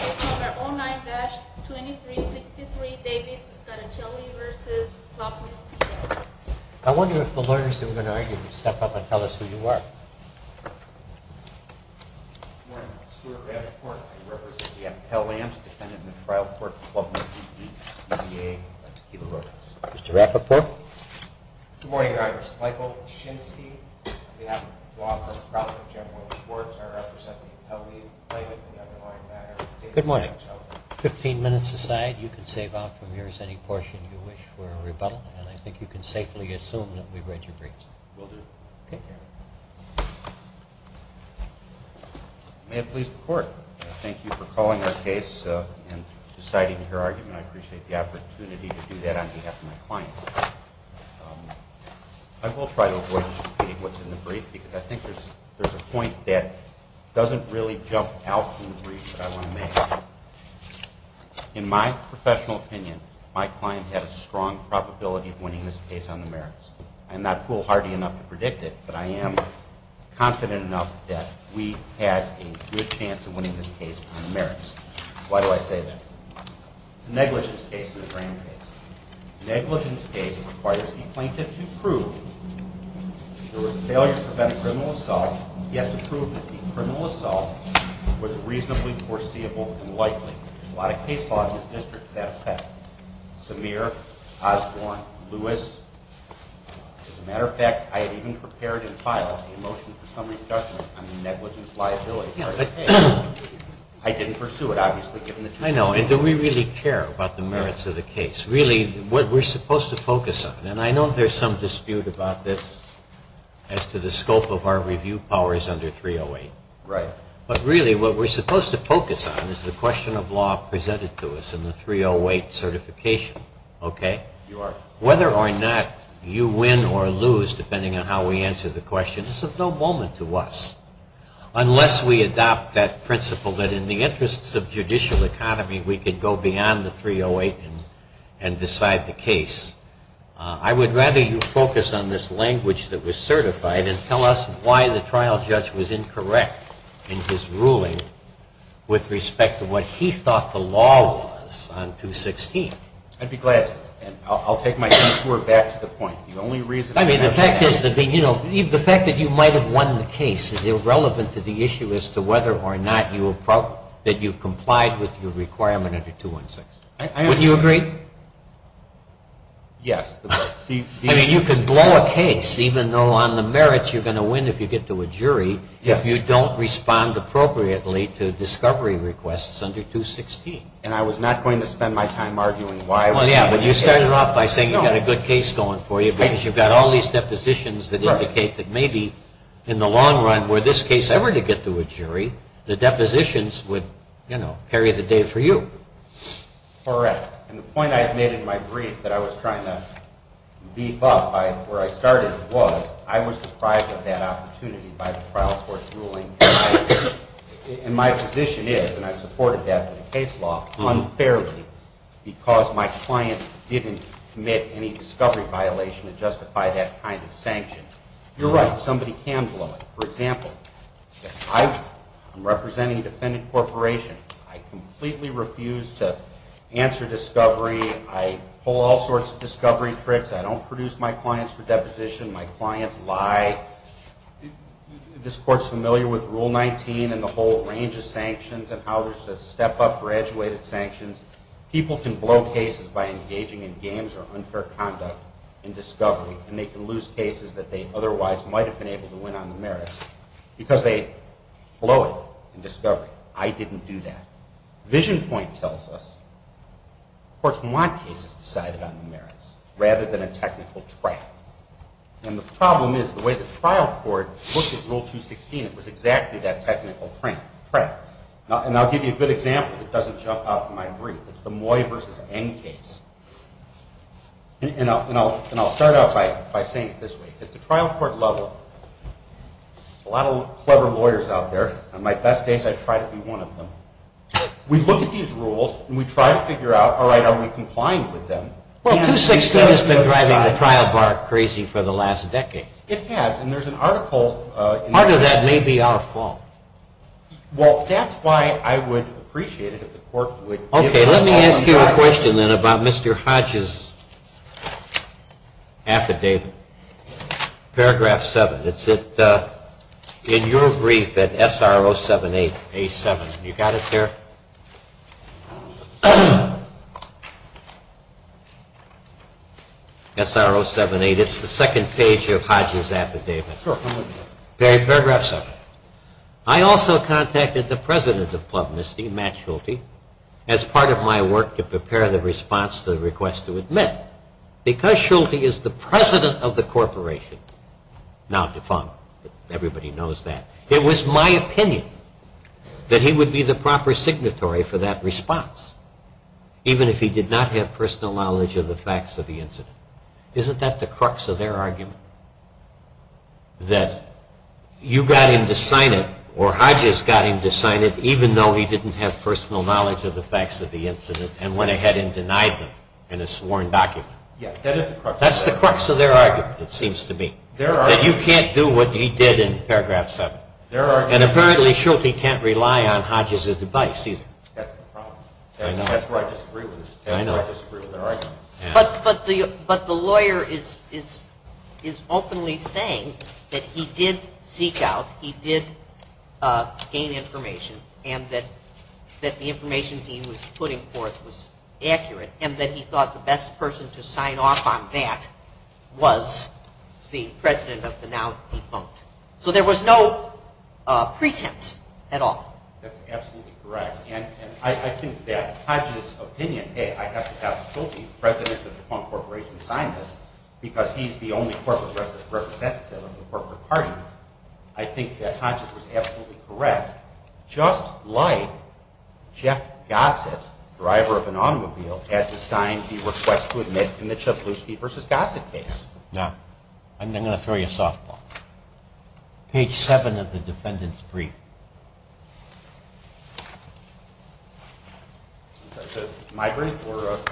I wonder if the lawyers that we're going to argue would step up and tell us who you are. Good morning, Mr. Rappaport. I represent the Appellant's Defendant in the Trial Court, Club Misty D. E. D. A. Mr. Rappaport. Good morning, Your Honor. Mr. Michael Shinsky, on behalf of the law firm, General Schwartz, I represent the Appellee's Plaintiff in the underlying matter. Good morning. Fifteen minutes aside, you can save up from yours any portion you wish for a rebuttal, and I think you can safely assume that we've read your briefs. We'll do. Okay. May it please the Court, I thank you for calling our case and deciding your argument. I appreciate the opportunity to do that on behalf of my client. I will try to avoid disputing what's in the brief, because I think there's a point that doesn't really jump out from the brief that I want to make. In my professional opinion, my client had a strong probability of winning this case on the merits. I'm not foolhardy enough to predict it, but I am confident enough that we had a good chance of winning this case on the merits. Why do I say that? Negligence case is a grand case. Negligence case requires the plaintiff to prove there was a failure to prevent a criminal assault. He has to prove that the criminal assault was reasonably foreseeable and likely. There's a lot of case law in this district that affect Samir, Osborne, Lewis. As a matter of fact, I had even prepared and filed a motion for summary adjustment on the negligence liability. I didn't pursue it, obviously, given the truth of the matter. I know, and do we really care about the merits of the case? Really, what we're supposed to focus on, and I know there's some dispute about this as to the scope of our review, power is under 308. But really, what we're supposed to focus on is the question of law presented to us in the 308 certification. Whether or not you win or lose, depending on how we answer the question, is of no moment to us. Unless we adopt that principle that in the interests of judicial economy, we could go beyond the 308 and decide the case. I would rather you focus on this language that was certified and tell us why the trial judge was incorrect in his ruling with respect to what he thought the law was on 216. I'd be glad to. I'll take my tour back to the point. The only reason I have for that. I mean, the fact that you might have won the case is irrelevant to the issue as to whether or not you complied with your requirement under 216. Wouldn't you agree? Yes. I mean, you could blow a case, even though on the merits you're going to win if you get to a jury, if you don't respond appropriately to discovery requests under 216. And I was not going to spend my time arguing why. Well, yeah, but you started off by saying you've got a good case going for you because you've got all these depositions that indicate that maybe in the long run, were this case ever to get to a jury, the depositions would, you know, carry the day for you. Correct. And the point I've made in my brief that I was trying to beef up by where I started was I was deprived of that opportunity by the trial court's ruling. And my position is, and I've supported that in the case law, unfairly because my client didn't commit any discovery violation to justify that kind of sanction. You're right, somebody can blow it. For example, if I'm representing a defendant corporation, I completely refuse to answer discovery. I pull all sorts of discovery tricks. I don't produce my clients for deposition. My clients lie. This Court's familiar with Rule 19 and the whole range of sanctions and how there's step-up graduated sanctions. People can blow cases by engaging in games or unfair conduct in discovery, and they can lose cases that they otherwise might have been able to win on the merits because they blow it in discovery. I didn't do that. Vision point tells us courts want cases decided on the merits rather than a technical trap. And the problem is the way the trial court looked at Rule 216, it was exactly that technical trap. And I'll give you a good example that doesn't jump out of my brief. It's the Moy versus Eng case. And I'll start out by saying it this way. At the trial court level, there's a lot of clever lawyers out there. On my best days, I try to be one of them. We look at these rules, and we try to figure out, all right, are we complying with them? Well, 216 has been driving the trial bar crazy for the last decade. It has, and there's an article. Part of that may be our fault. Well, that's why I would appreciate it if the court would give us some time. Okay. Let me ask you a question then about Mr. Hodge's affidavit. Paragraph 7. It's in your brief at SR 078A7. You got it there? SR 078. It's the second page of Hodge's affidavit. Sure. Paragraph 7. I also contacted the president of Plum Misty, Matt Schulte, as part of my work to prepare the response to the request to admit. Because Schulte is the president of the corporation, now defunct. Everybody knows that. It was my opinion that he would be the proper signatory for that response, even if he did not have personal knowledge of the facts of the incident. Isn't that the crux of their argument? That you got him to sign it, or Hodge's got him to sign it, even though he didn't have personal knowledge of the facts of the incident and went ahead and denied them in a sworn document. Yes, that is the crux. That's the crux of their argument, it seems to me. Their argument. That you can't do what he did in paragraph 7. Their argument. And apparently Schulte can't rely on Hodge's advice either. That's the problem. I know. That's where I disagree with this. I know. That's where I disagree with their argument. But the lawyer is openly saying that he did seek out, he did gain information, and that the information he was putting forth was accurate and that he thought the best person to sign off on that was the president of the now defunct. So there was no pretense at all. That's absolutely correct. And I think that Hodge's opinion, hey, I have to have Schulte, the president of the defunct corporation, sign this because he's the only corporate representative of the corporate party. I think that Hodge's was absolutely correct, just like Jeff Gossett, driver of an automobile, had to sign the request to admit in the Cebulski v. Gossett case. Now, I'm going to throw you a softball. Page 7 of the defendant's brief. My brief?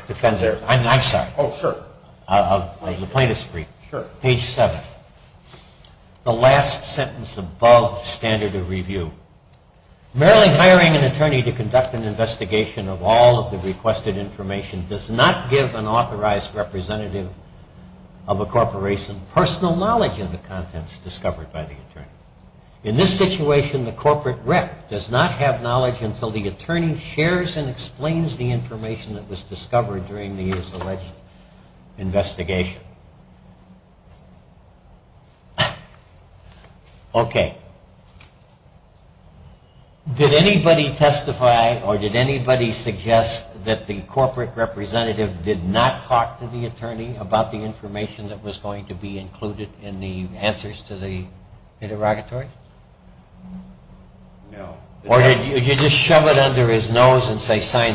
Defendant. I'm sorry. Oh, sure. The plaintiff's brief. Sure. Page 7. The last sentence above standard of review. Merely hiring an attorney to conduct an investigation of all of the requested information does not give an authorized representative of a corporation personal knowledge of the contents discovered by the attorney. In this situation, the corporate rep does not have knowledge until the attorney shares and explains the information that was discovered during the year's alleged investigation. Okay. Did anybody testify or did anybody suggest that the corporate representative did not talk to the attorney about the information that was going to be included in the answers to the interrogatory? No. Or did you just shove it under his nose and say, sign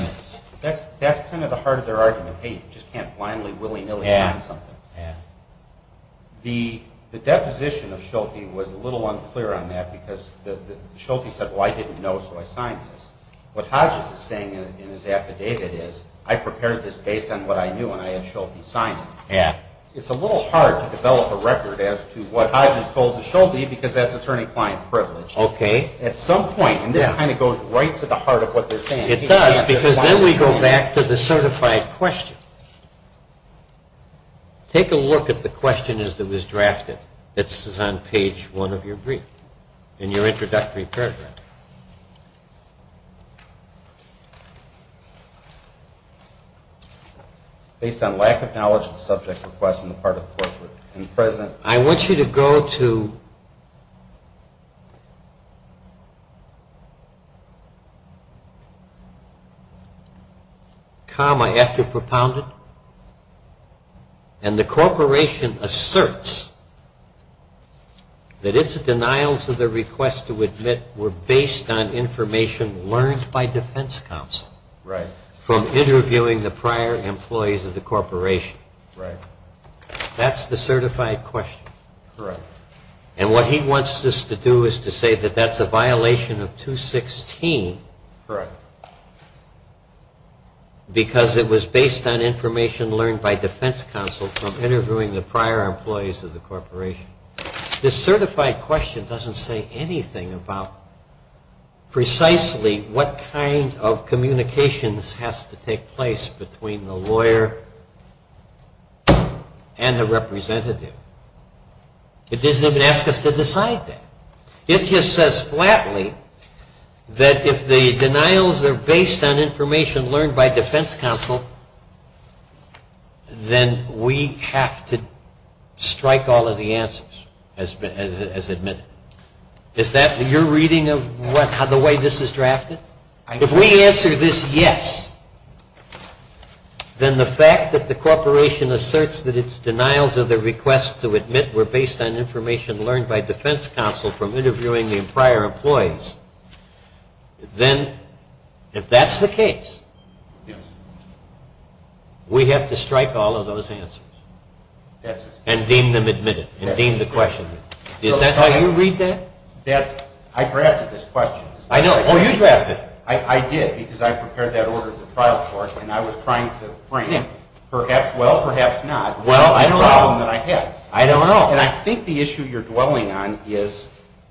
this? That's kind of the heart of their argument. Hey, you just can't blindly, willy-nilly sign something. Yeah. The deposition of Schulte was a little unclear on that because Schulte said, well, I didn't know, so I signed this. What Hodges is saying in his affidavit is, I prepared this based on what I knew and I had Schulte sign it. Yeah. It's a little hard to develop a record as to what Hodges told Schulte because that's attorney-client privilege. Okay. At some point, and this kind of goes right to the heart of what they're saying. It does because then we go back to the certified question. Take a look at the question as it was drafted. This is on page one of your brief in your introductory paragraph. Based on lack of knowledge of the subject request on the part of the corporate and the president. I want you to go to comma after propounded. And the corporation asserts that its denials of the request to admit were based on information learned by defense counsel. Right. From interviewing the prior employees of the corporation. Right. That's the certified question. Correct. And what he wants us to do is to say that that's a violation of 216. Correct. Because it was based on information learned by defense counsel from interviewing the prior employees of the corporation. This certified question doesn't say anything about precisely what kind of communications has to take place between the lawyer and the representative. It doesn't even ask us to decide that. It just says flatly that if the denials are based on information learned by defense counsel, then we have to strike all of the answers as admitted. Is that your reading of the way this is drafted? If we answer this yes, then the fact that the corporation asserts that its denials of the request to admit were based on information learned by defense counsel from interviewing the prior employees, then if that's the case, we have to strike all of those answers and deem them admitted and deem the question. Is that how you read that? I drafted this question. I know. Oh, you drafted it. I did because I prepared that order at the trial court and I was trying to frame perhaps well, perhaps not, the problem that I had. I don't know. And I think the issue you're dwelling on is.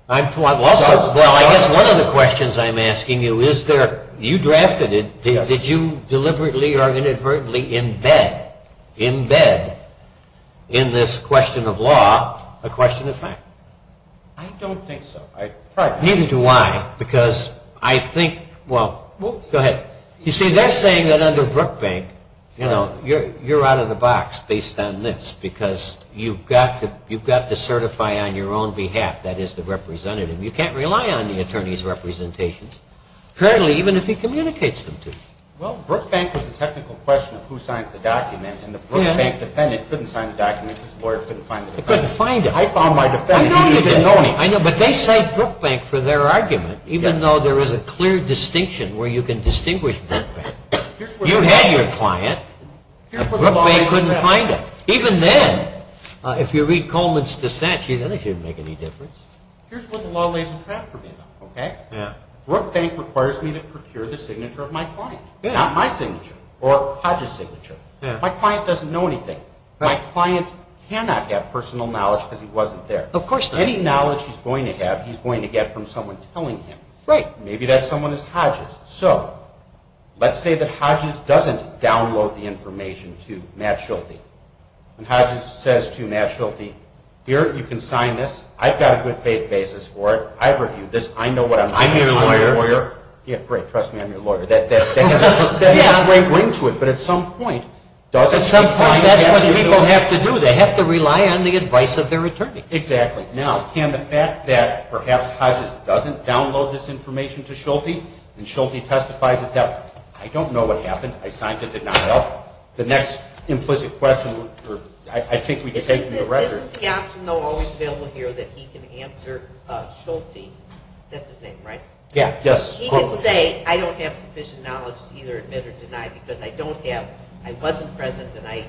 Well, I guess one of the questions I'm asking you is you drafted it. Did you deliberately or inadvertently embed in this question of law a question of fact? I don't think so. Neither do I because I think, well, go ahead. You see, they're saying that under Brookbank you're out of the box based on this because you've got to certify on your own behalf. That is the representative. You can't rely on the attorney's representations currently even if he communicates them to you. Well, Brookbank was a technical question of who signed the document and the Brookbank defendant couldn't sign the document because the lawyer couldn't find the document. He couldn't find it. I found my defendant. I know, but they cite Brookbank for their argument even though there is a clear distinction where you can distinguish Brookbank. You had your client and Brookbank couldn't find it. Even then, if you read Coleman's dissent, she doesn't think it would make any difference. Here's where the law lays a trap for me. Brookbank requires me to procure the signature of my client, not my signature or Hodges' signature. My client doesn't know anything. My client cannot have personal knowledge because he wasn't there. Any knowledge he's going to have he's going to get from someone telling him. Maybe that someone is Hodges. So let's say that Hodges doesn't download the information to Matt Schulte. Hodges says to Matt Schulte, here, you can sign this. I've got a good faith basis for it. I've reviewed this. I know what I'm doing. I'm your lawyer. Great. Trust me, I'm your lawyer. That has a great ring to it, but at some point, does it? At some point, that's what people have to do. They have to rely on the advice of their attorney. Exactly. Now, can the fact that perhaps Hodges doesn't download this information to Schulte and Schulte testifies that, I don't know what happened. I signed the denial. The next implicit question, I think we can take from the record. Isn't the option, though, always available here that he can answer Schulte? That's his name, right? Yeah, yes. He can say, I don't have sufficient knowledge to either admit or deny because I don't have, I wasn't present, and I,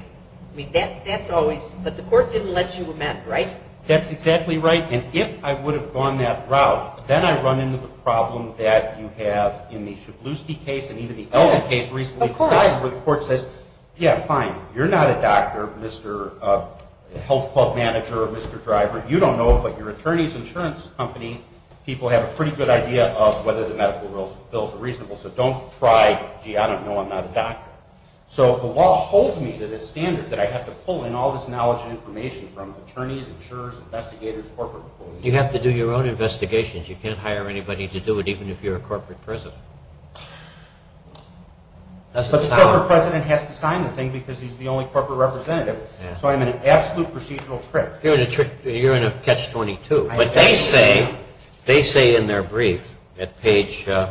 I mean, that's always, but the court didn't let you amend, right? That's exactly right, and if I would have gone that route, then I'd run into the problem that you have in the Schubluski case and even the Elgin case recently decided where the court says, yeah, fine, you're not a doctor, Mr. Health Club manager, Mr. Driver, you don't know, but your attorney's insurance company, people have a pretty good idea of whether the medical bills are reasonable, so don't try, gee, I don't know, I'm not a doctor. So the law holds me to this standard that I have to pull in all this knowledge and information from attorneys, insurers, investigators, corporate employees. You have to do your own investigations. You can't hire anybody to do it, even if you're a corporate president. But the corporate president has to sign the thing because he's the only corporate representative, so I'm in an absolute procedural trick. You're in a trick, you're in a catch-22. But they say in their brief at page 9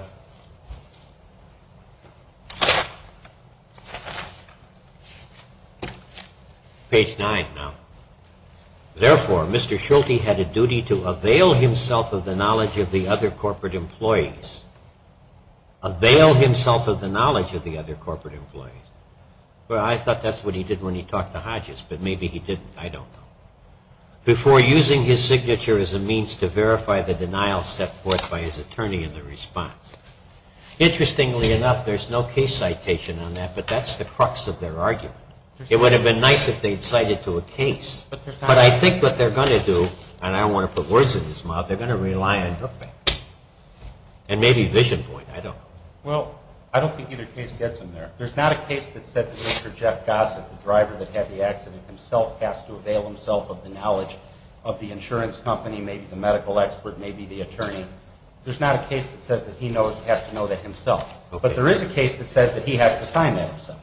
now, therefore, Mr. Schulte had a duty to avail himself of the knowledge of the other corporate employees. Avail himself of the knowledge of the other corporate employees. I thought that's what he did when he talked to Hodges, but maybe he didn't, I don't know. Before using his signature as a means to verify the denial set forth by his attorney in the response. Interestingly enough, there's no case citation on that, but that's the crux of their argument. It would have been nice if they'd cited to a case, but I think what they're going to do, and I don't want to put words in his mouth, they're going to rely on hookback and maybe vision point. I don't know. Well, I don't think either case gets him there. There's not a case that said that Mr. Jeff Gossett, the driver that had the accident himself, has to avail himself of the knowledge of the insurance company, maybe the medical expert, maybe the attorney. There's not a case that says that he has to know that himself. But there is a case that says that he has to sign that himself.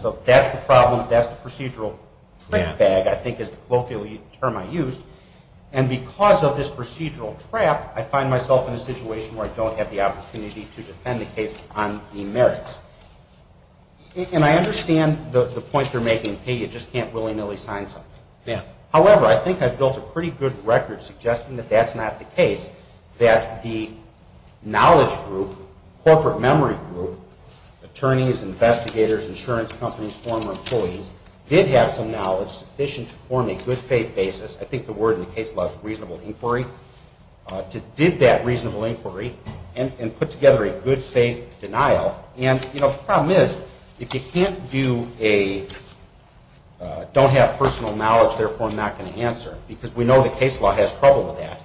So that's the problem, that's the procedural trick bag, I think is the colloquial term I used. And because of this procedural trap, I find myself in a situation where I don't have the opportunity to defend the case on the merits. And I understand the point they're making, hey, you just can't willy-nilly sign something. However, I think I've built a pretty good record suggesting that that's not the case, that the knowledge group, corporate memory group, attorneys, investigators, insurance companies, former employees, did have some knowledge sufficient to form a good faith basis. I think the word in the case was reasonable inquiry. Did that reasonable inquiry and put together a good faith denial. And the problem is, if you can't do a don't have personal knowledge, therefore I'm not going to answer, because we know the case law has trouble with that.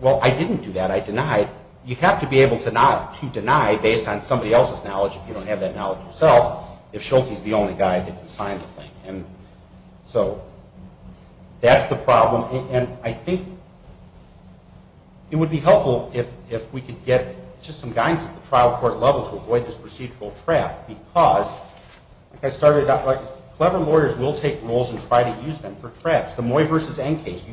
Well, I didn't do that, I denied. You have to be able to deny based on somebody else's knowledge if you don't have that knowledge yourself, if Schulte's the only guy that can sign the thing. So that's the problem. And I think it would be helpful if we could get just some guidance at the trial court level to avoid this procedural trap, because clever lawyers will take rules and try to use them for traps. The Moy versus Enn case,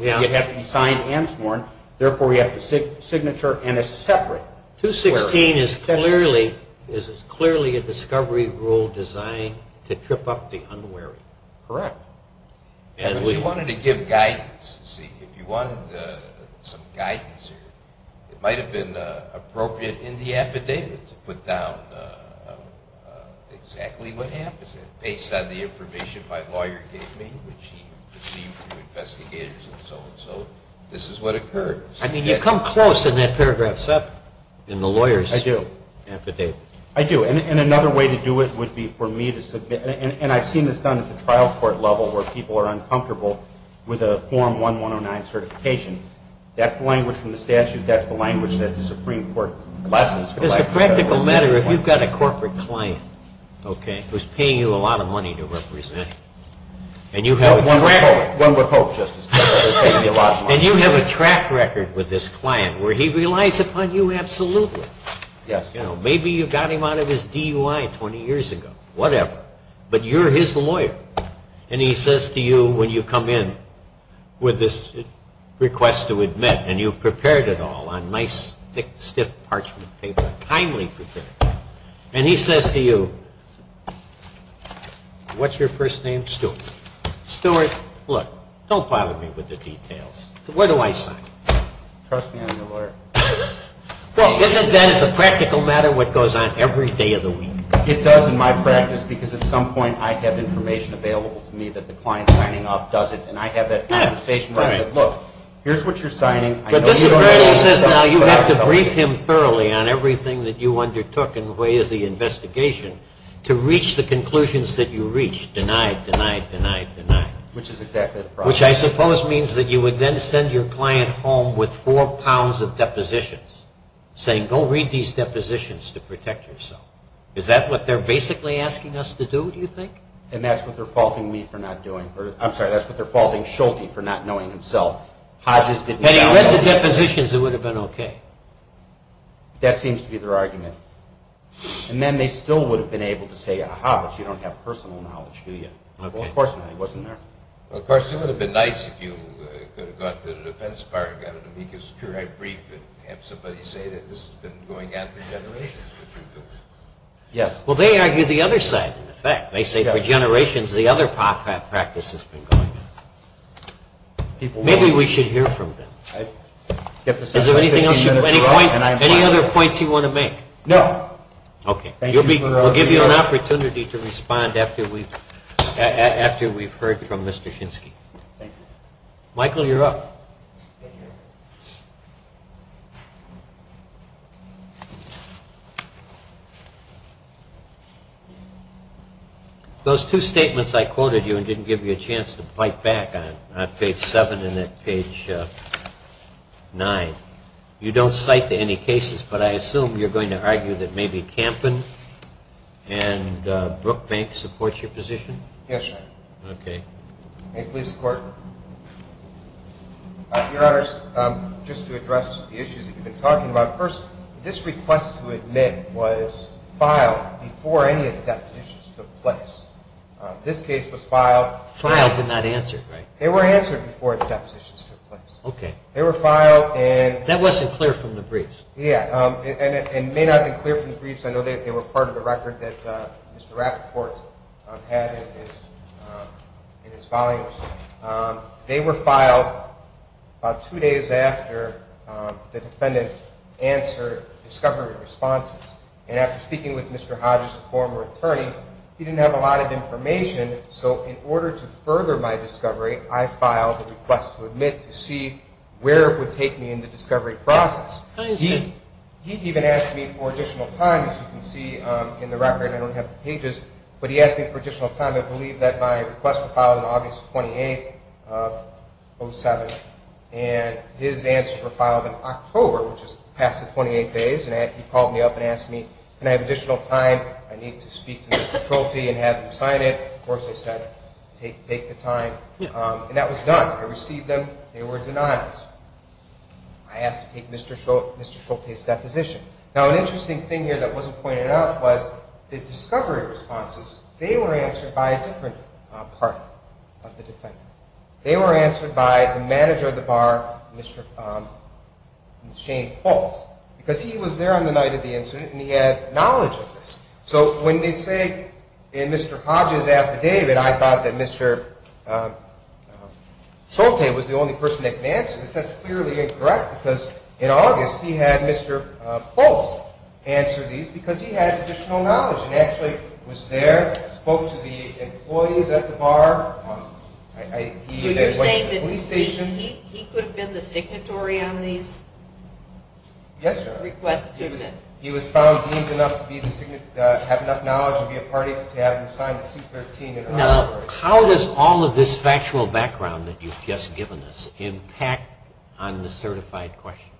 it has to be signed and sworn, therefore we have to signature in a separate query. 216 is clearly a discovery rule designed to trip up the unwary. Correct. If you wanted to give guidance, see, if you wanted some guidance, it might have been appropriate in the affidavit to put down exactly what happens based on the information my lawyer gave me, which he received from investigators and so and so. This is what occurred. I mean, you come close in that paragraph 7 in the lawyer's affidavit. I do. I do. And another way to do it would be for me to submit, and I've seen this done at the trial court level where people are uncomfortable with a Form 1109 certification. That's the language from the statute. That's the language that the Supreme Court lessons from. It's a practical matter if you've got a corporate client, okay, who's paying you a lot of money to represent. And you have a track record. One would hope, Justice Kennedy. And you have a track record with this client where he relies upon you absolutely. Maybe you got him out of his DUI 20 years ago, whatever, but you're his lawyer. And he says to you when you come in with this request to admit, and you've prepared it all on nice, thick, stiff parchment paper, kindly prepared, and he says to you, what's your first name? Stewart. Stewart, look, don't bother me with the details. Where do I sign? Trust me, I'm your lawyer. Well, isn't that as a practical matter what goes on every day of the week? It does in my practice because at some point I have information available to me that the client signing off doesn't, and I have that conversation where I say, look, here's what you're signing. But this attorney says now you have to brief him thoroughly on everything that you undertook in the way of the investigation to reach the conclusions that you reached. Denied, denied, denied, denied. Which is exactly the problem. Which I suppose means that you would then send your client home with four pounds of depositions saying, go read these depositions to protect yourself. Is that what they're basically asking us to do, do you think? And that's what they're faulting me for not doing. I'm sorry, that's what they're faulting Schulte for not knowing himself. Had he read the depositions, it would have been okay. That seems to be their argument. And then they still would have been able to say, aha, but you don't have personal knowledge, do you? Well, of course not. He wasn't there. Of course, it would have been nice if you could have gone to the defense bar and got an amicus curiae brief and have somebody say that this has been going on for generations. Yes. Well, they argue the other side, in effect. They say for generations the other practice has been going on. Maybe we should hear from them. Is there anything else, any other points you want to make? No. Okay. We'll give you an opportunity to respond after we've heard from Mr. Shinsky. Michael, you're up. Thank you. Those two statements I quoted you and didn't give you a chance to fight back on, on page 7 and then page 9, you don't cite to any cases, but I assume you're going to argue that maybe Kampen and Brookbank support your position? Yes, sir. Okay. May it please the Court? Your Honors, just to address the issues that you've been talking about, first, this request to admit was filed before any of the depositions took place. This case was filed. Filed but not answered, right? They were answered before the depositions took place. Okay. They were filed and- That wasn't clear from the briefs. Yeah. And it may not have been clear from the briefs. I know they were part of the record that Mr. Rappaport had in his volumes. They were filed about two days after the defendant answered discovery responses. And after speaking with Mr. Hodges, the former attorney, he didn't have a lot of information, so in order to further my discovery, I filed a request to admit to see where it would take me in the discovery process. I understand. He even asked me for additional time, as you can see in the record. I don't have the pages. But he asked me for additional time. I believe that my request was filed on August 28th of 2007. And his answer was filed in October, which is past the 28th days. And he called me up and asked me, can I have additional time? I need to speak to Mr. Schulte and have him sign it. Of course, I said, take the time. And that was done. I received them. They were denied. I asked to take Mr. Schulte's deposition. Now, an interesting thing here that wasn't pointed out was the discovery responses, they were answered by a different part of the defendant. They were answered by the manager of the bar, Shane Fultz, because he was there on the night of the incident and he had knowledge of this. So when they say in Mr. Hodges' affidavit, I thought that Mr. Schulte was the only person that could answer this. That's clearly incorrect because in August, he had Mr. Fultz answer these because he had additional knowledge. He actually was there, spoke to the employees at the bar. So you're saying that he could have been the signatory on these requests? Yes, Your Honor. He was found deemed enough to have enough knowledge to be a party Now, how does all of this factual background that you've just given us impact on the certified question?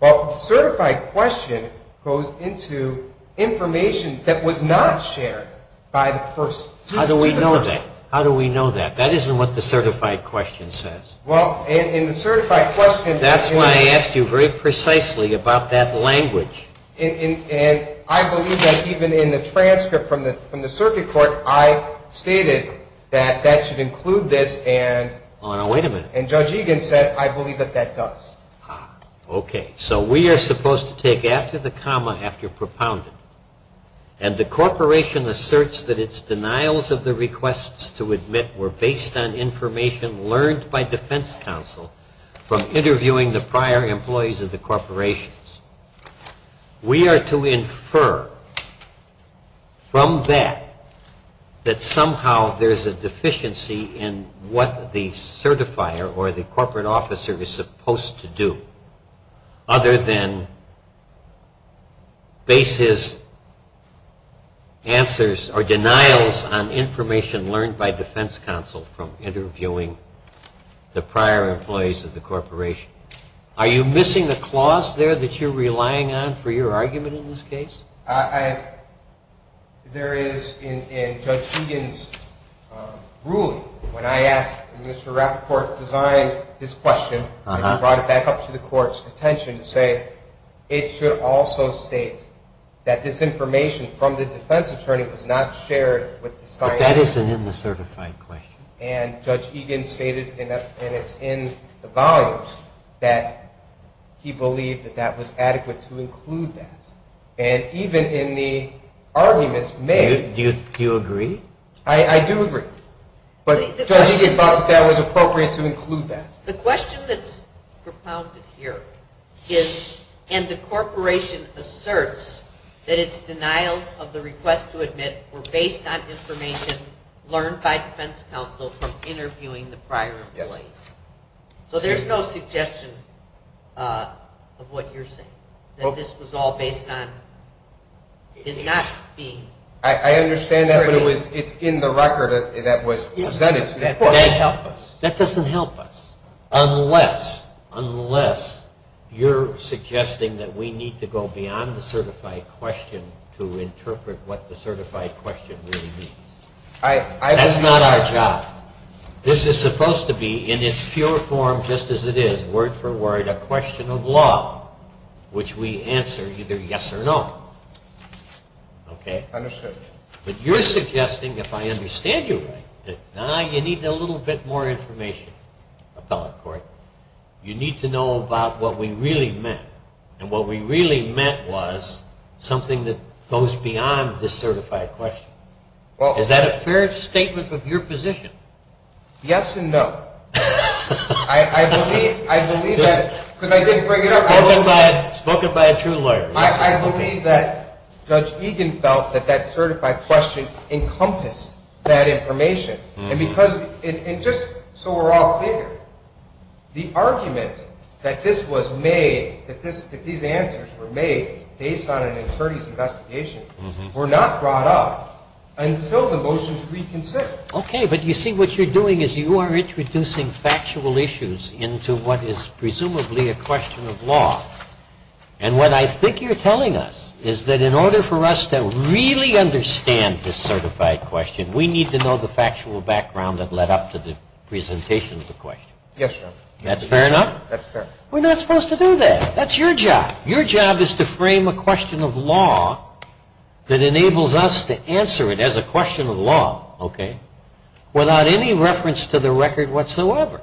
Well, the certified question goes into information that was not shared by the person. How do we know that? How do we know that? That isn't what the certified question says. Well, in the certified question That's why I asked you very precisely about that language. And I believe that even in the transcript from the circuit court, I stated that that should include this and Judge Egan said, I believe that that does. Okay. So we are supposed to take after the comma, after propounded. And the corporation asserts that its denials of the requests to admit were based on information learned by defense counsel from interviewing the prior employees of the corporations. We are to infer from that that somehow there's a deficiency in what the certifier or the corporate officer is supposed to do, other than base his answers or denials on information learned by defense counsel from interviewing the prior employees of the corporation. Are you missing the clause there that you're relying on for your argument in this case? There is in Judge Egan's ruling when I asked and Mr. Rapoport designed his question and brought it back up to the court's attention to say, it should also state that this information from the defense attorney was not shared with the scientific. That isn't in the certified question. And Judge Egan stated, and it's in the volumes, that he believed that that was adequate to include that. And even in the arguments made. Do you agree? I do agree. But Judge Egan thought that that was appropriate to include that. The question that's propounded here is, and the corporation asserts that its denials of the request to admit were based on information learned by defense counsel from interviewing the prior employees. So there's no suggestion of what you're saying, that this was all based on, is not being. I understand that, but it's in the record that was presented to the court. That doesn't help us. Unless, unless you're suggesting that we need to go beyond the certified question to interpret what the certified question really means. That's not our job. This is supposed to be, in its pure form, just as it is, word for word, a question of law, which we answer either yes or no. Okay? Understood. But you're suggesting, if I understand you right, that now you need a little bit more information, appellate court. You need to know about what we really meant. And what we really meant was something that goes beyond the certified question. Is that a fair statement of your position? Yes and no. I believe that, because I did bring it up. Spoken by a true lawyer. I believe that Judge Egan felt that that certified question encompassed that information. And because, and just so we're all clear, the argument that this was made, that these answers were made based on an attorney's investigation, were not brought up until the motion to reconsider. Okay, but you see, what you're doing is you are introducing factual issues into what is presumably a question of law. And what I think you're telling us is that in order for us to really understand this certified question, we need to know the factual background that led up to the presentation of the question. Yes, sir. That's fair enough? That's fair. We're not supposed to do that. That's your job. Your job is to frame a question of law that enables us to answer it as a question of law, okay, without any reference to the record whatsoever.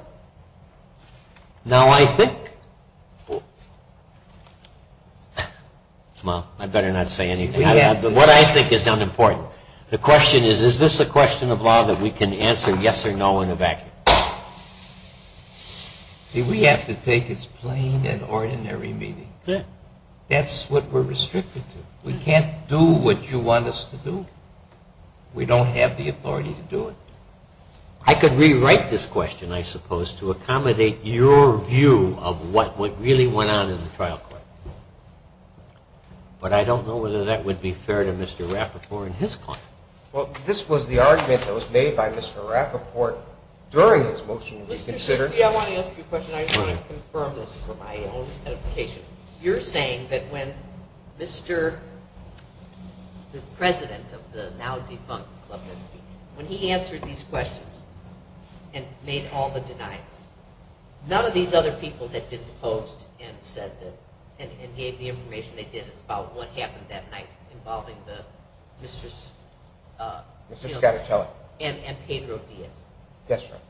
Now, I think, well, I better not say anything. What I think is unimportant. The question is, is this a question of law that we can answer yes or no in a vacuum? See, we have to take its plain and ordinary meaning. That's what we're restricted to. We can't do what you want us to do. We don't have the authority to do it. I could rewrite this question, I suppose, to accommodate your view of what really went on in the trial court. But I don't know whether that would be fair to Mr. Rappaport and his client. Well, this was the argument that was made by Mr. Rappaport during his motion. I want to ask you a question. I just want to confirm this for my own edification. You're saying that when Mr. President of the now-defunct Club, when he answered these questions and made all the denials, none of these other people had been deposed and gave the information they did about what happened that night involving Mr. Scattertelli and Pedro Diaz? Yes, ma'am.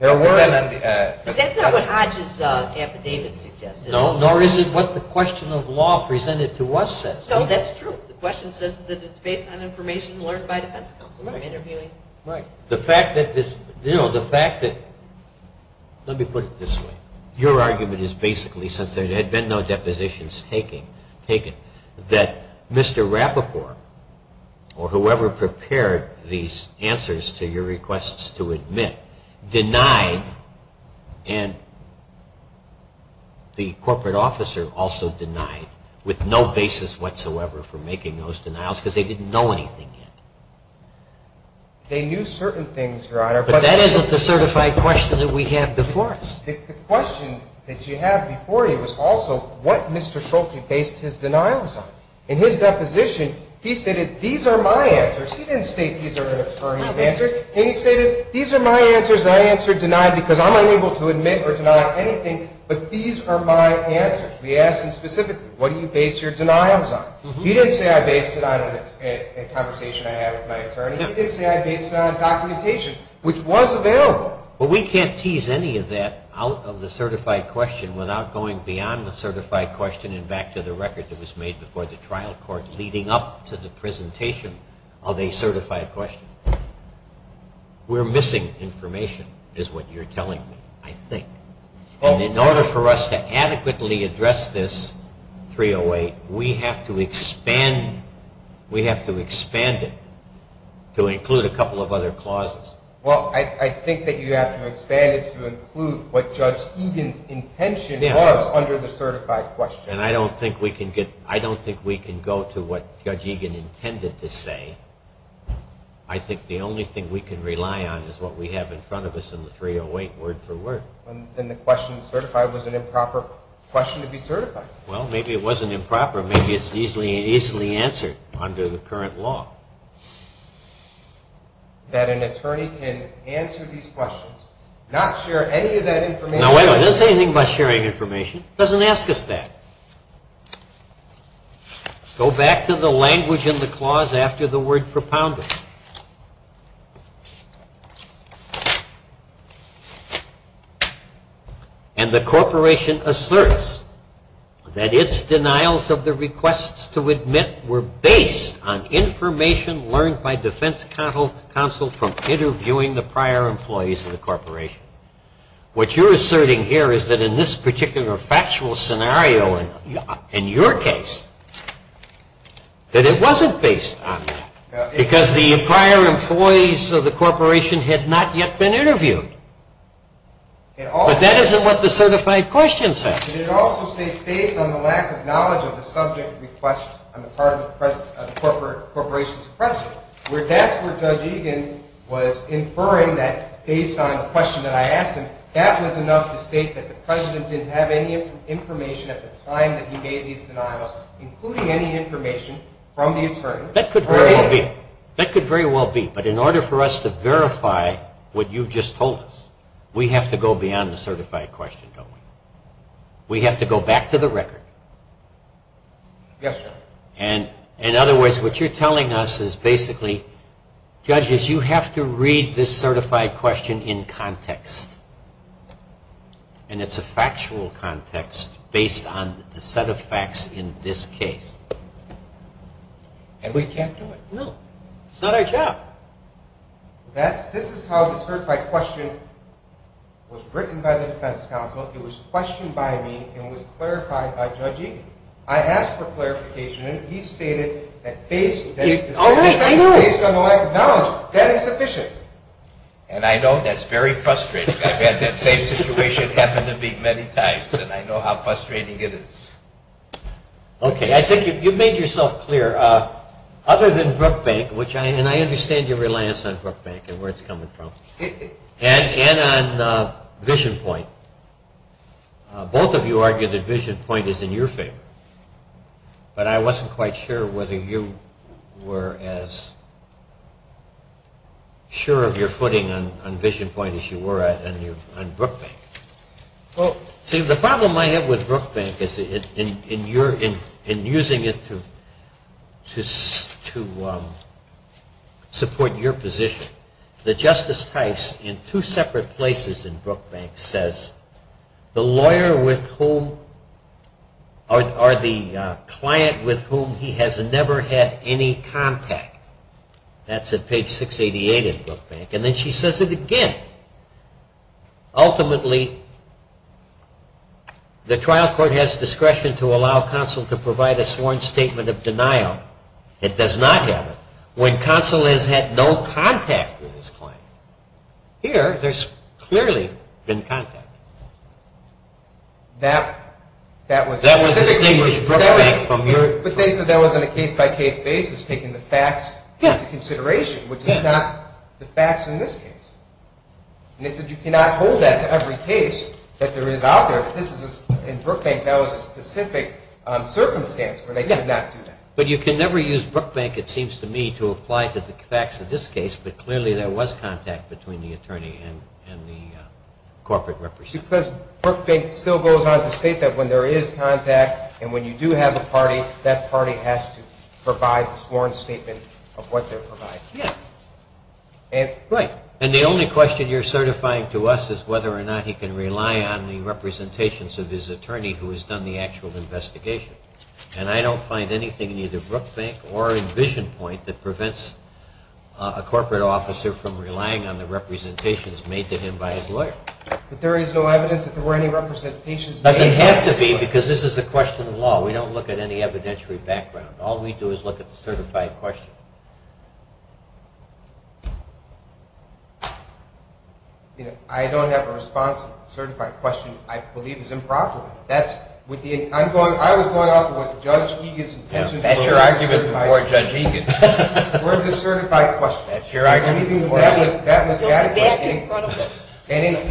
That's not what Hodge's affidavit suggests. No, nor is it what the question of law presented to us says. No, that's true. The question says that it's based on information learned by defense counsel. Right. The fact that this, you know, the fact that, let me put it this way. Your argument is basically, since there had been no depositions taken, that Mr. Rappaport or whoever prepared these answers to your requests to admit denied, and the corporate officer also denied, with no basis whatsoever for making those denials because they didn't know anything yet. They knew certain things, Your Honor. But that isn't the certified question that we have before us. The question that you have before you is also what Mr. Schulte based his denials on. In his deposition, he stated, these are my answers. He didn't state these are his answers. He stated, these are my answers, and I answered denied because I'm unable to admit or deny anything, but these are my answers. We asked him specifically, what do you base your denials on? He didn't say I based it on a conversation I had with my attorney. He didn't say I based it on documentation, which was available. But we can't tease any of that out of the certified question without going beyond the certified question and back to the record that was made before the trial court leading up to the presentation of a certified question. We're missing information is what you're telling me, I think. And in order for us to adequately address this 308, we have to expand it to include a couple of other clauses. Well, I think that you have to expand it to include what Judge Egan's intention was under the certified question. And I don't think we can go to what Judge Egan intended to say. I think the only thing we can rely on is what we have in front of us in the 308 word for word. And the question certified was an improper question to be certified. Well, maybe it wasn't improper. Maybe it's easily answered under the current law. That an attorney can answer these questions, not share any of that information. Now, wait a minute. It doesn't say anything about sharing information. It doesn't ask us that. Go back to the language in the clause after the word propounded. And the corporation asserts that its denials of the requests to admit were based on information learned What you're asserting here is that in this particular factual scenario, in your case, that it wasn't based on that. Because the prior employees of the corporation had not yet been interviewed. But that isn't what the certified question says. It also states based on the lack of knowledge of the subject request on the part of the corporation's president. That's where Judge Egan was inferring that based on the question that I asked him, that was enough to state that the president didn't have any information at the time that he made these denials, including any information from the attorney. That could very well be. But in order for us to verify what you just told us, we have to go beyond the certified question, don't we? Yes, sir. In other words, what you're telling us is basically, judges, you have to read this certified question in context. And it's a factual context based on the set of facts in this case. And we can't do it. No. It's not our job. This is how the certified question was written by the defense counsel. It was questioned by me and was clarified by Judge Egan. I asked for clarification, and he stated that based on the lack of knowledge, that is sufficient. And I know that's very frustrating. I've had that same situation happen to me many times, and I know how frustrating it is. Okay. I think you've made yourself clear. Other than Brookbank, and I understand your reliance on Brookbank and where it's coming from, and on VisionPoint. Both of you argue that VisionPoint is in your favor. But I wasn't quite sure whether you were as sure of your footing on VisionPoint as you were on Brookbank. Well, see, the problem I have with Brookbank is in using it to support your position. The Justice Tice, in two separate places in Brookbank, says the lawyer with whom or the client with whom he has never had any contact. That's at page 688 in Brookbank. And then she says it again. Ultimately, the trial court has discretion to allow counsel to provide a sworn statement of denial. It does not have it. When counsel has had no contact with his client, here, there's clearly been contact. That was specifically Brookbank from your point of view. But they said that was on a case-by-case basis, taking the facts into consideration, which is not the facts in this case. And they said you cannot hold that to every case that there is out there. In Brookbank, that was a specific circumstance where they could not do that. But you can never use Brookbank, it seems to me, to apply to the facts of this case. But clearly there was contact between the attorney and the corporate representative. Because Brookbank still goes on to state that when there is contact and when you do have a party, that party has to provide a sworn statement of what they're providing. Yes. Right. And the only question you're certifying to us is whether or not he can rely on the representations of his attorney who has done the actual investigation. And I don't find anything in either Brookbank or in VisionPoint that prevents a corporate officer from relying on the representations made to him by his lawyer. But there is no evidence that there were any representations made by his lawyer. It doesn't have to be, because this is a question of law. We don't look at any evidentiary background. All we do is look at the certified question. I don't have a response to the certified question I believe is improper. I was going off of what Judge Egan's intentions were. That's your argument before Judge Egan. Or the certified question. That's your argument before Judge Egan. That was adequate. Okay. We're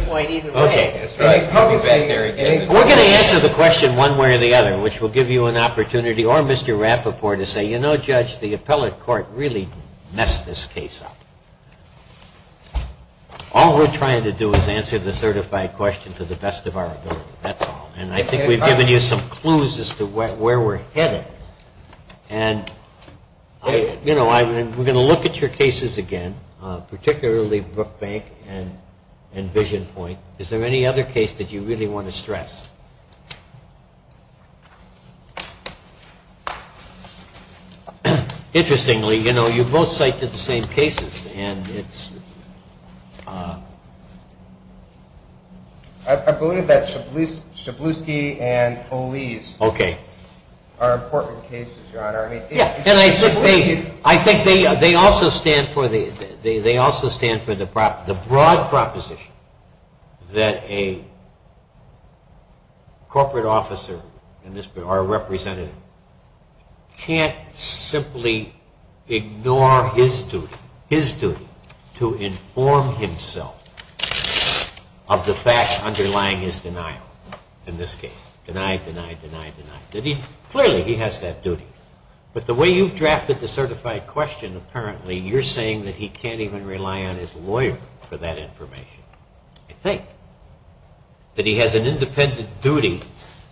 going to answer the question one way or the other, which will give you an opportunity, or Mr. Rapoport, to say, you know, Judge, the appellate court really messed this case up. All we're trying to do is answer the certified question to the best of our ability. That's all. And I think we've given you some clues as to where we're headed. And, you know, we're going to look at your cases again, particularly Brookbank and VisionPoint. Is there any other case that you really want to stress? Interestingly, you know, you both cited the same cases, and it's ‑‑ I believe that Shabliski and Oles are important cases, Your Honor. Yeah. And I think they also stand for the broad proposition that a corporate officer or a representative can't simply ignore his duty, his duty to inform himself of the facts underlying his denial in this case. Deny, deny, deny, deny. Clearly, he has that duty. But the way you've drafted the certified question, apparently, you're saying that he can't even rely on his lawyer for that information. I think that he has an independent duty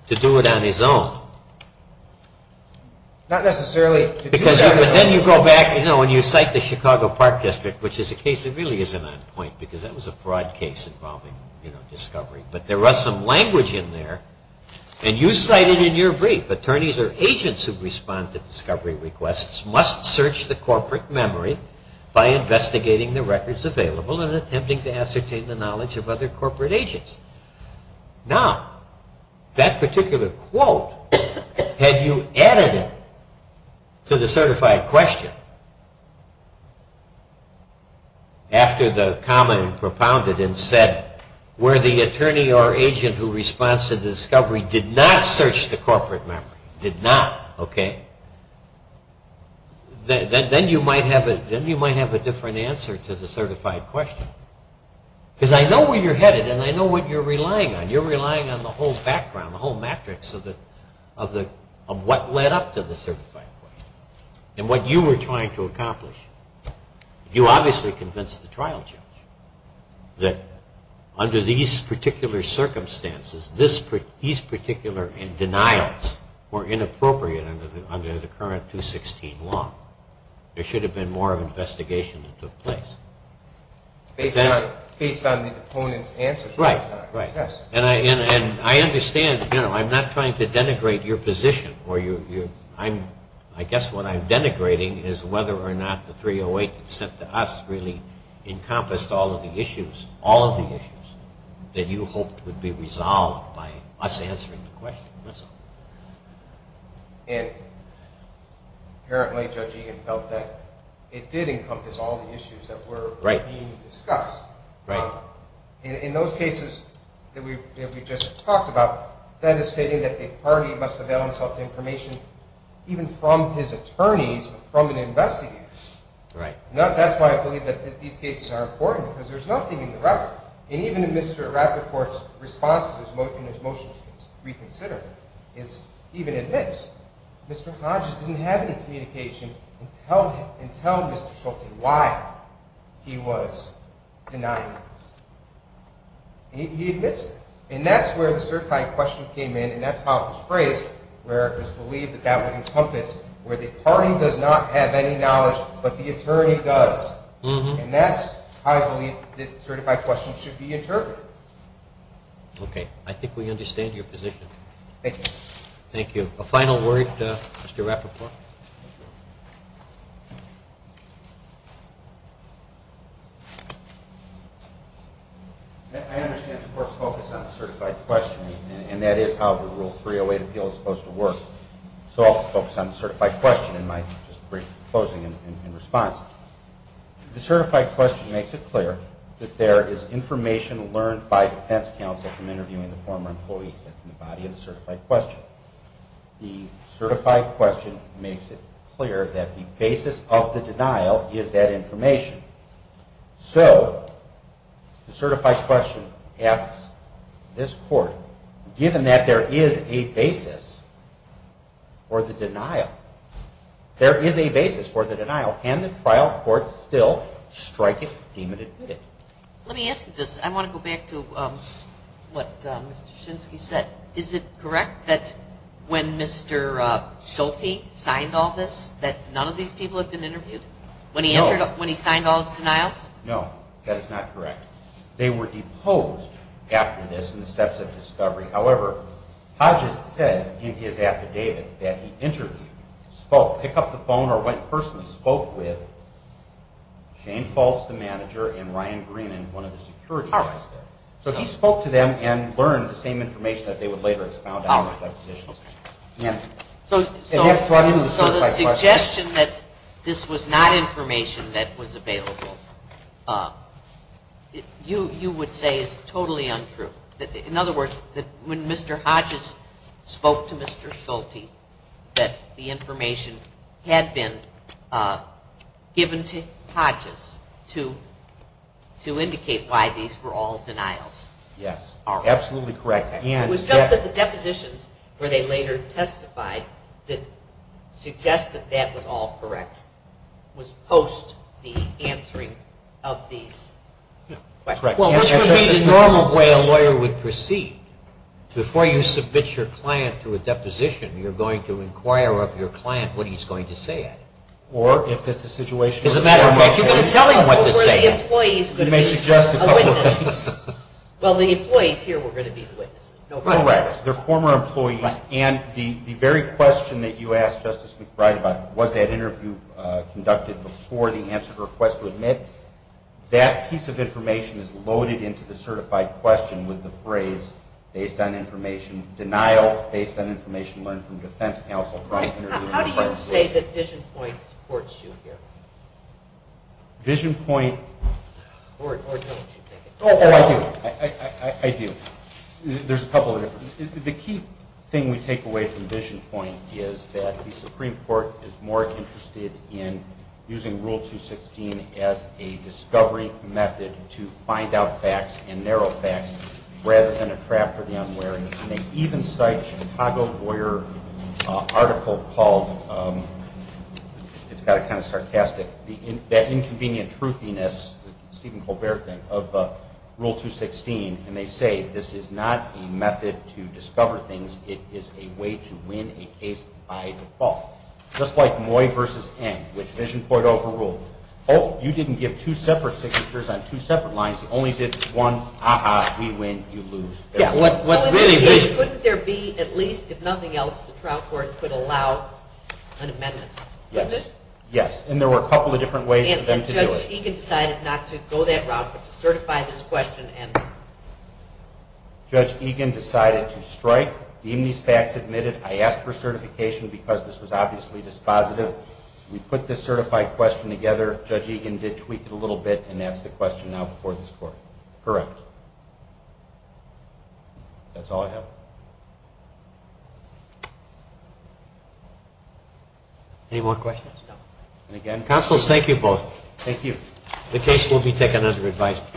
to do it on his own. Not necessarily. Because then you go back, you know, and you cite the Chicago Park District, which is a case that really isn't on point, because that was a fraud case involving, you know, discovery. But there was some language in there, and you cited in your brief, attorneys or agents who respond to discovery requests must search the corporate memory by investigating the records available and attempting to ascertain the knowledge of other corporate agents. Now, that particular quote, had you added it to the certified question, after the comment propounded and said, where the attorney or agent who responds to the discovery did not search the corporate memory, did not, okay, then you might have a different answer to the certified question. Because I know where you're headed, and I know what you're relying on. You're relying on the whole background, the whole matrix of what led up to the certified question and what you were trying to accomplish. You obviously convinced the trial judge that under these particular circumstances, these particular denials were inappropriate under the current 216 law. There should have been more investigation that took place. Based on the opponent's answers. Right, right. Yes. And I understand, you know, I'm not trying to denigrate your position. I guess what I'm denigrating is whether or not the 308 that's sent to us really encompassed all of the issues, all of the issues that you hoped would be resolved by us answering the question. And apparently Judge Egan felt that it did encompass all the issues that were being discussed. In those cases that we just talked about, that is stating that a party must avail himself to information even from his attorneys, from an investigator. Right. That's why I believe that these cases are important, because there's nothing in the record. And even in Mr. Rapoport's response in his motion to reconsider, he even admits Mr. Hodges didn't have any communication until Mr. Schulte, why he was denying this. He admits that. And that's where the certified question came in, and that's how it was phrased, where it was believed that that would encompass where the party does not have any knowledge, but the attorney does. And that's how I believe the certified question should be interpreted. Okay. I think we understand your position. Thank you. Thank you. A final word, Mr. Rapoport? Thank you. I understand the court's focus on the certified question, and that is how the Rule 308 appeal is supposed to work. So I'll focus on the certified question in my brief closing and response. The certified question makes it clear that there is information learned by defense counsel from interviewing the former employees that's in the body of the certified question. So the certified question makes it clear that the basis of the denial is that information. So the certified question asks this court, given that there is a basis for the denial, there is a basis for the denial, can the trial court still strike it, deem it, and admit it? Let me ask you this. I want to go back to what Mr. Shinsky said. Is it correct that when Mr. Schulte signed all this, that none of these people have been interviewed? No. When he signed all his denials? No, that is not correct. They were deposed after this in the steps of discovery. However, Hodges says in his affidavit that he interviewed, picked up the phone or went personally spoke with Shane Fultz, the manager, and Ryan Green, one of the security guys there. So he spoke to them and learned the same information that they would later expound on in their depositions. So the suggestion that this was not information that was available, you would say is totally untrue. In other words, when Mr. Hodges spoke to Mr. Schulte, that the information had been given to Hodges to indicate why these were all denials. Yes. Absolutely correct. It was just that the depositions where they later testified that suggest that that was all correct was post the answering of these questions. Correct. Which would be the normal way a lawyer would proceed. Before you submit your client to a deposition, you're going to inquire of your client what he's going to say at it. Or if it's a situation of some kind. You're going to tell him what to say. You may suggest a couple of things. Well, the employees here were going to be the witnesses. Correct. They're former employees. And the very question that you asked Justice McBride about, was that interview conducted before the answer to request to admit, that piece of information is loaded into the certified question with the phrase based on information denials, based on information learned from defense counsel. How do you say that VisionPoint supports you here? VisionPoint. Or don't you think it does? Oh, I do. I do. There's a couple of different. The key thing we take away from VisionPoint is that the Supreme Court is more interested in using Rule 216 as a discovery method to find out facts and narrow facts rather than a trap for the unwary. They even cite a Chicago Lawyer article called, it's kind of sarcastic, that inconvenient truthiness, Stephen Colbert thing, of Rule 216. And they say this is not a method to discover things. It is a way to win a case by default. Just like Moy versus Eng, which VisionPoint overruled. Oh, you didn't give two separate signatures on two separate lines. You only did one, ah-ha, we win, you lose. Yeah. So in this case, couldn't there be at least, if nothing else, the trial court could allow an amendment? Yes. Yes. And there were a couple of different ways for them to do it. And Judge Egan decided not to go that route but to certify this question and... Judge Egan decided to strike, deem these facts admitted. I asked for certification because this was obviously dispositive. We put this certified question together. Judge Egan did tweak it a little bit and that's the question now before this court. Correct. That's all I have. Any more questions? No. Counsel, thank you both. Thank you. The case will be taken under advisement.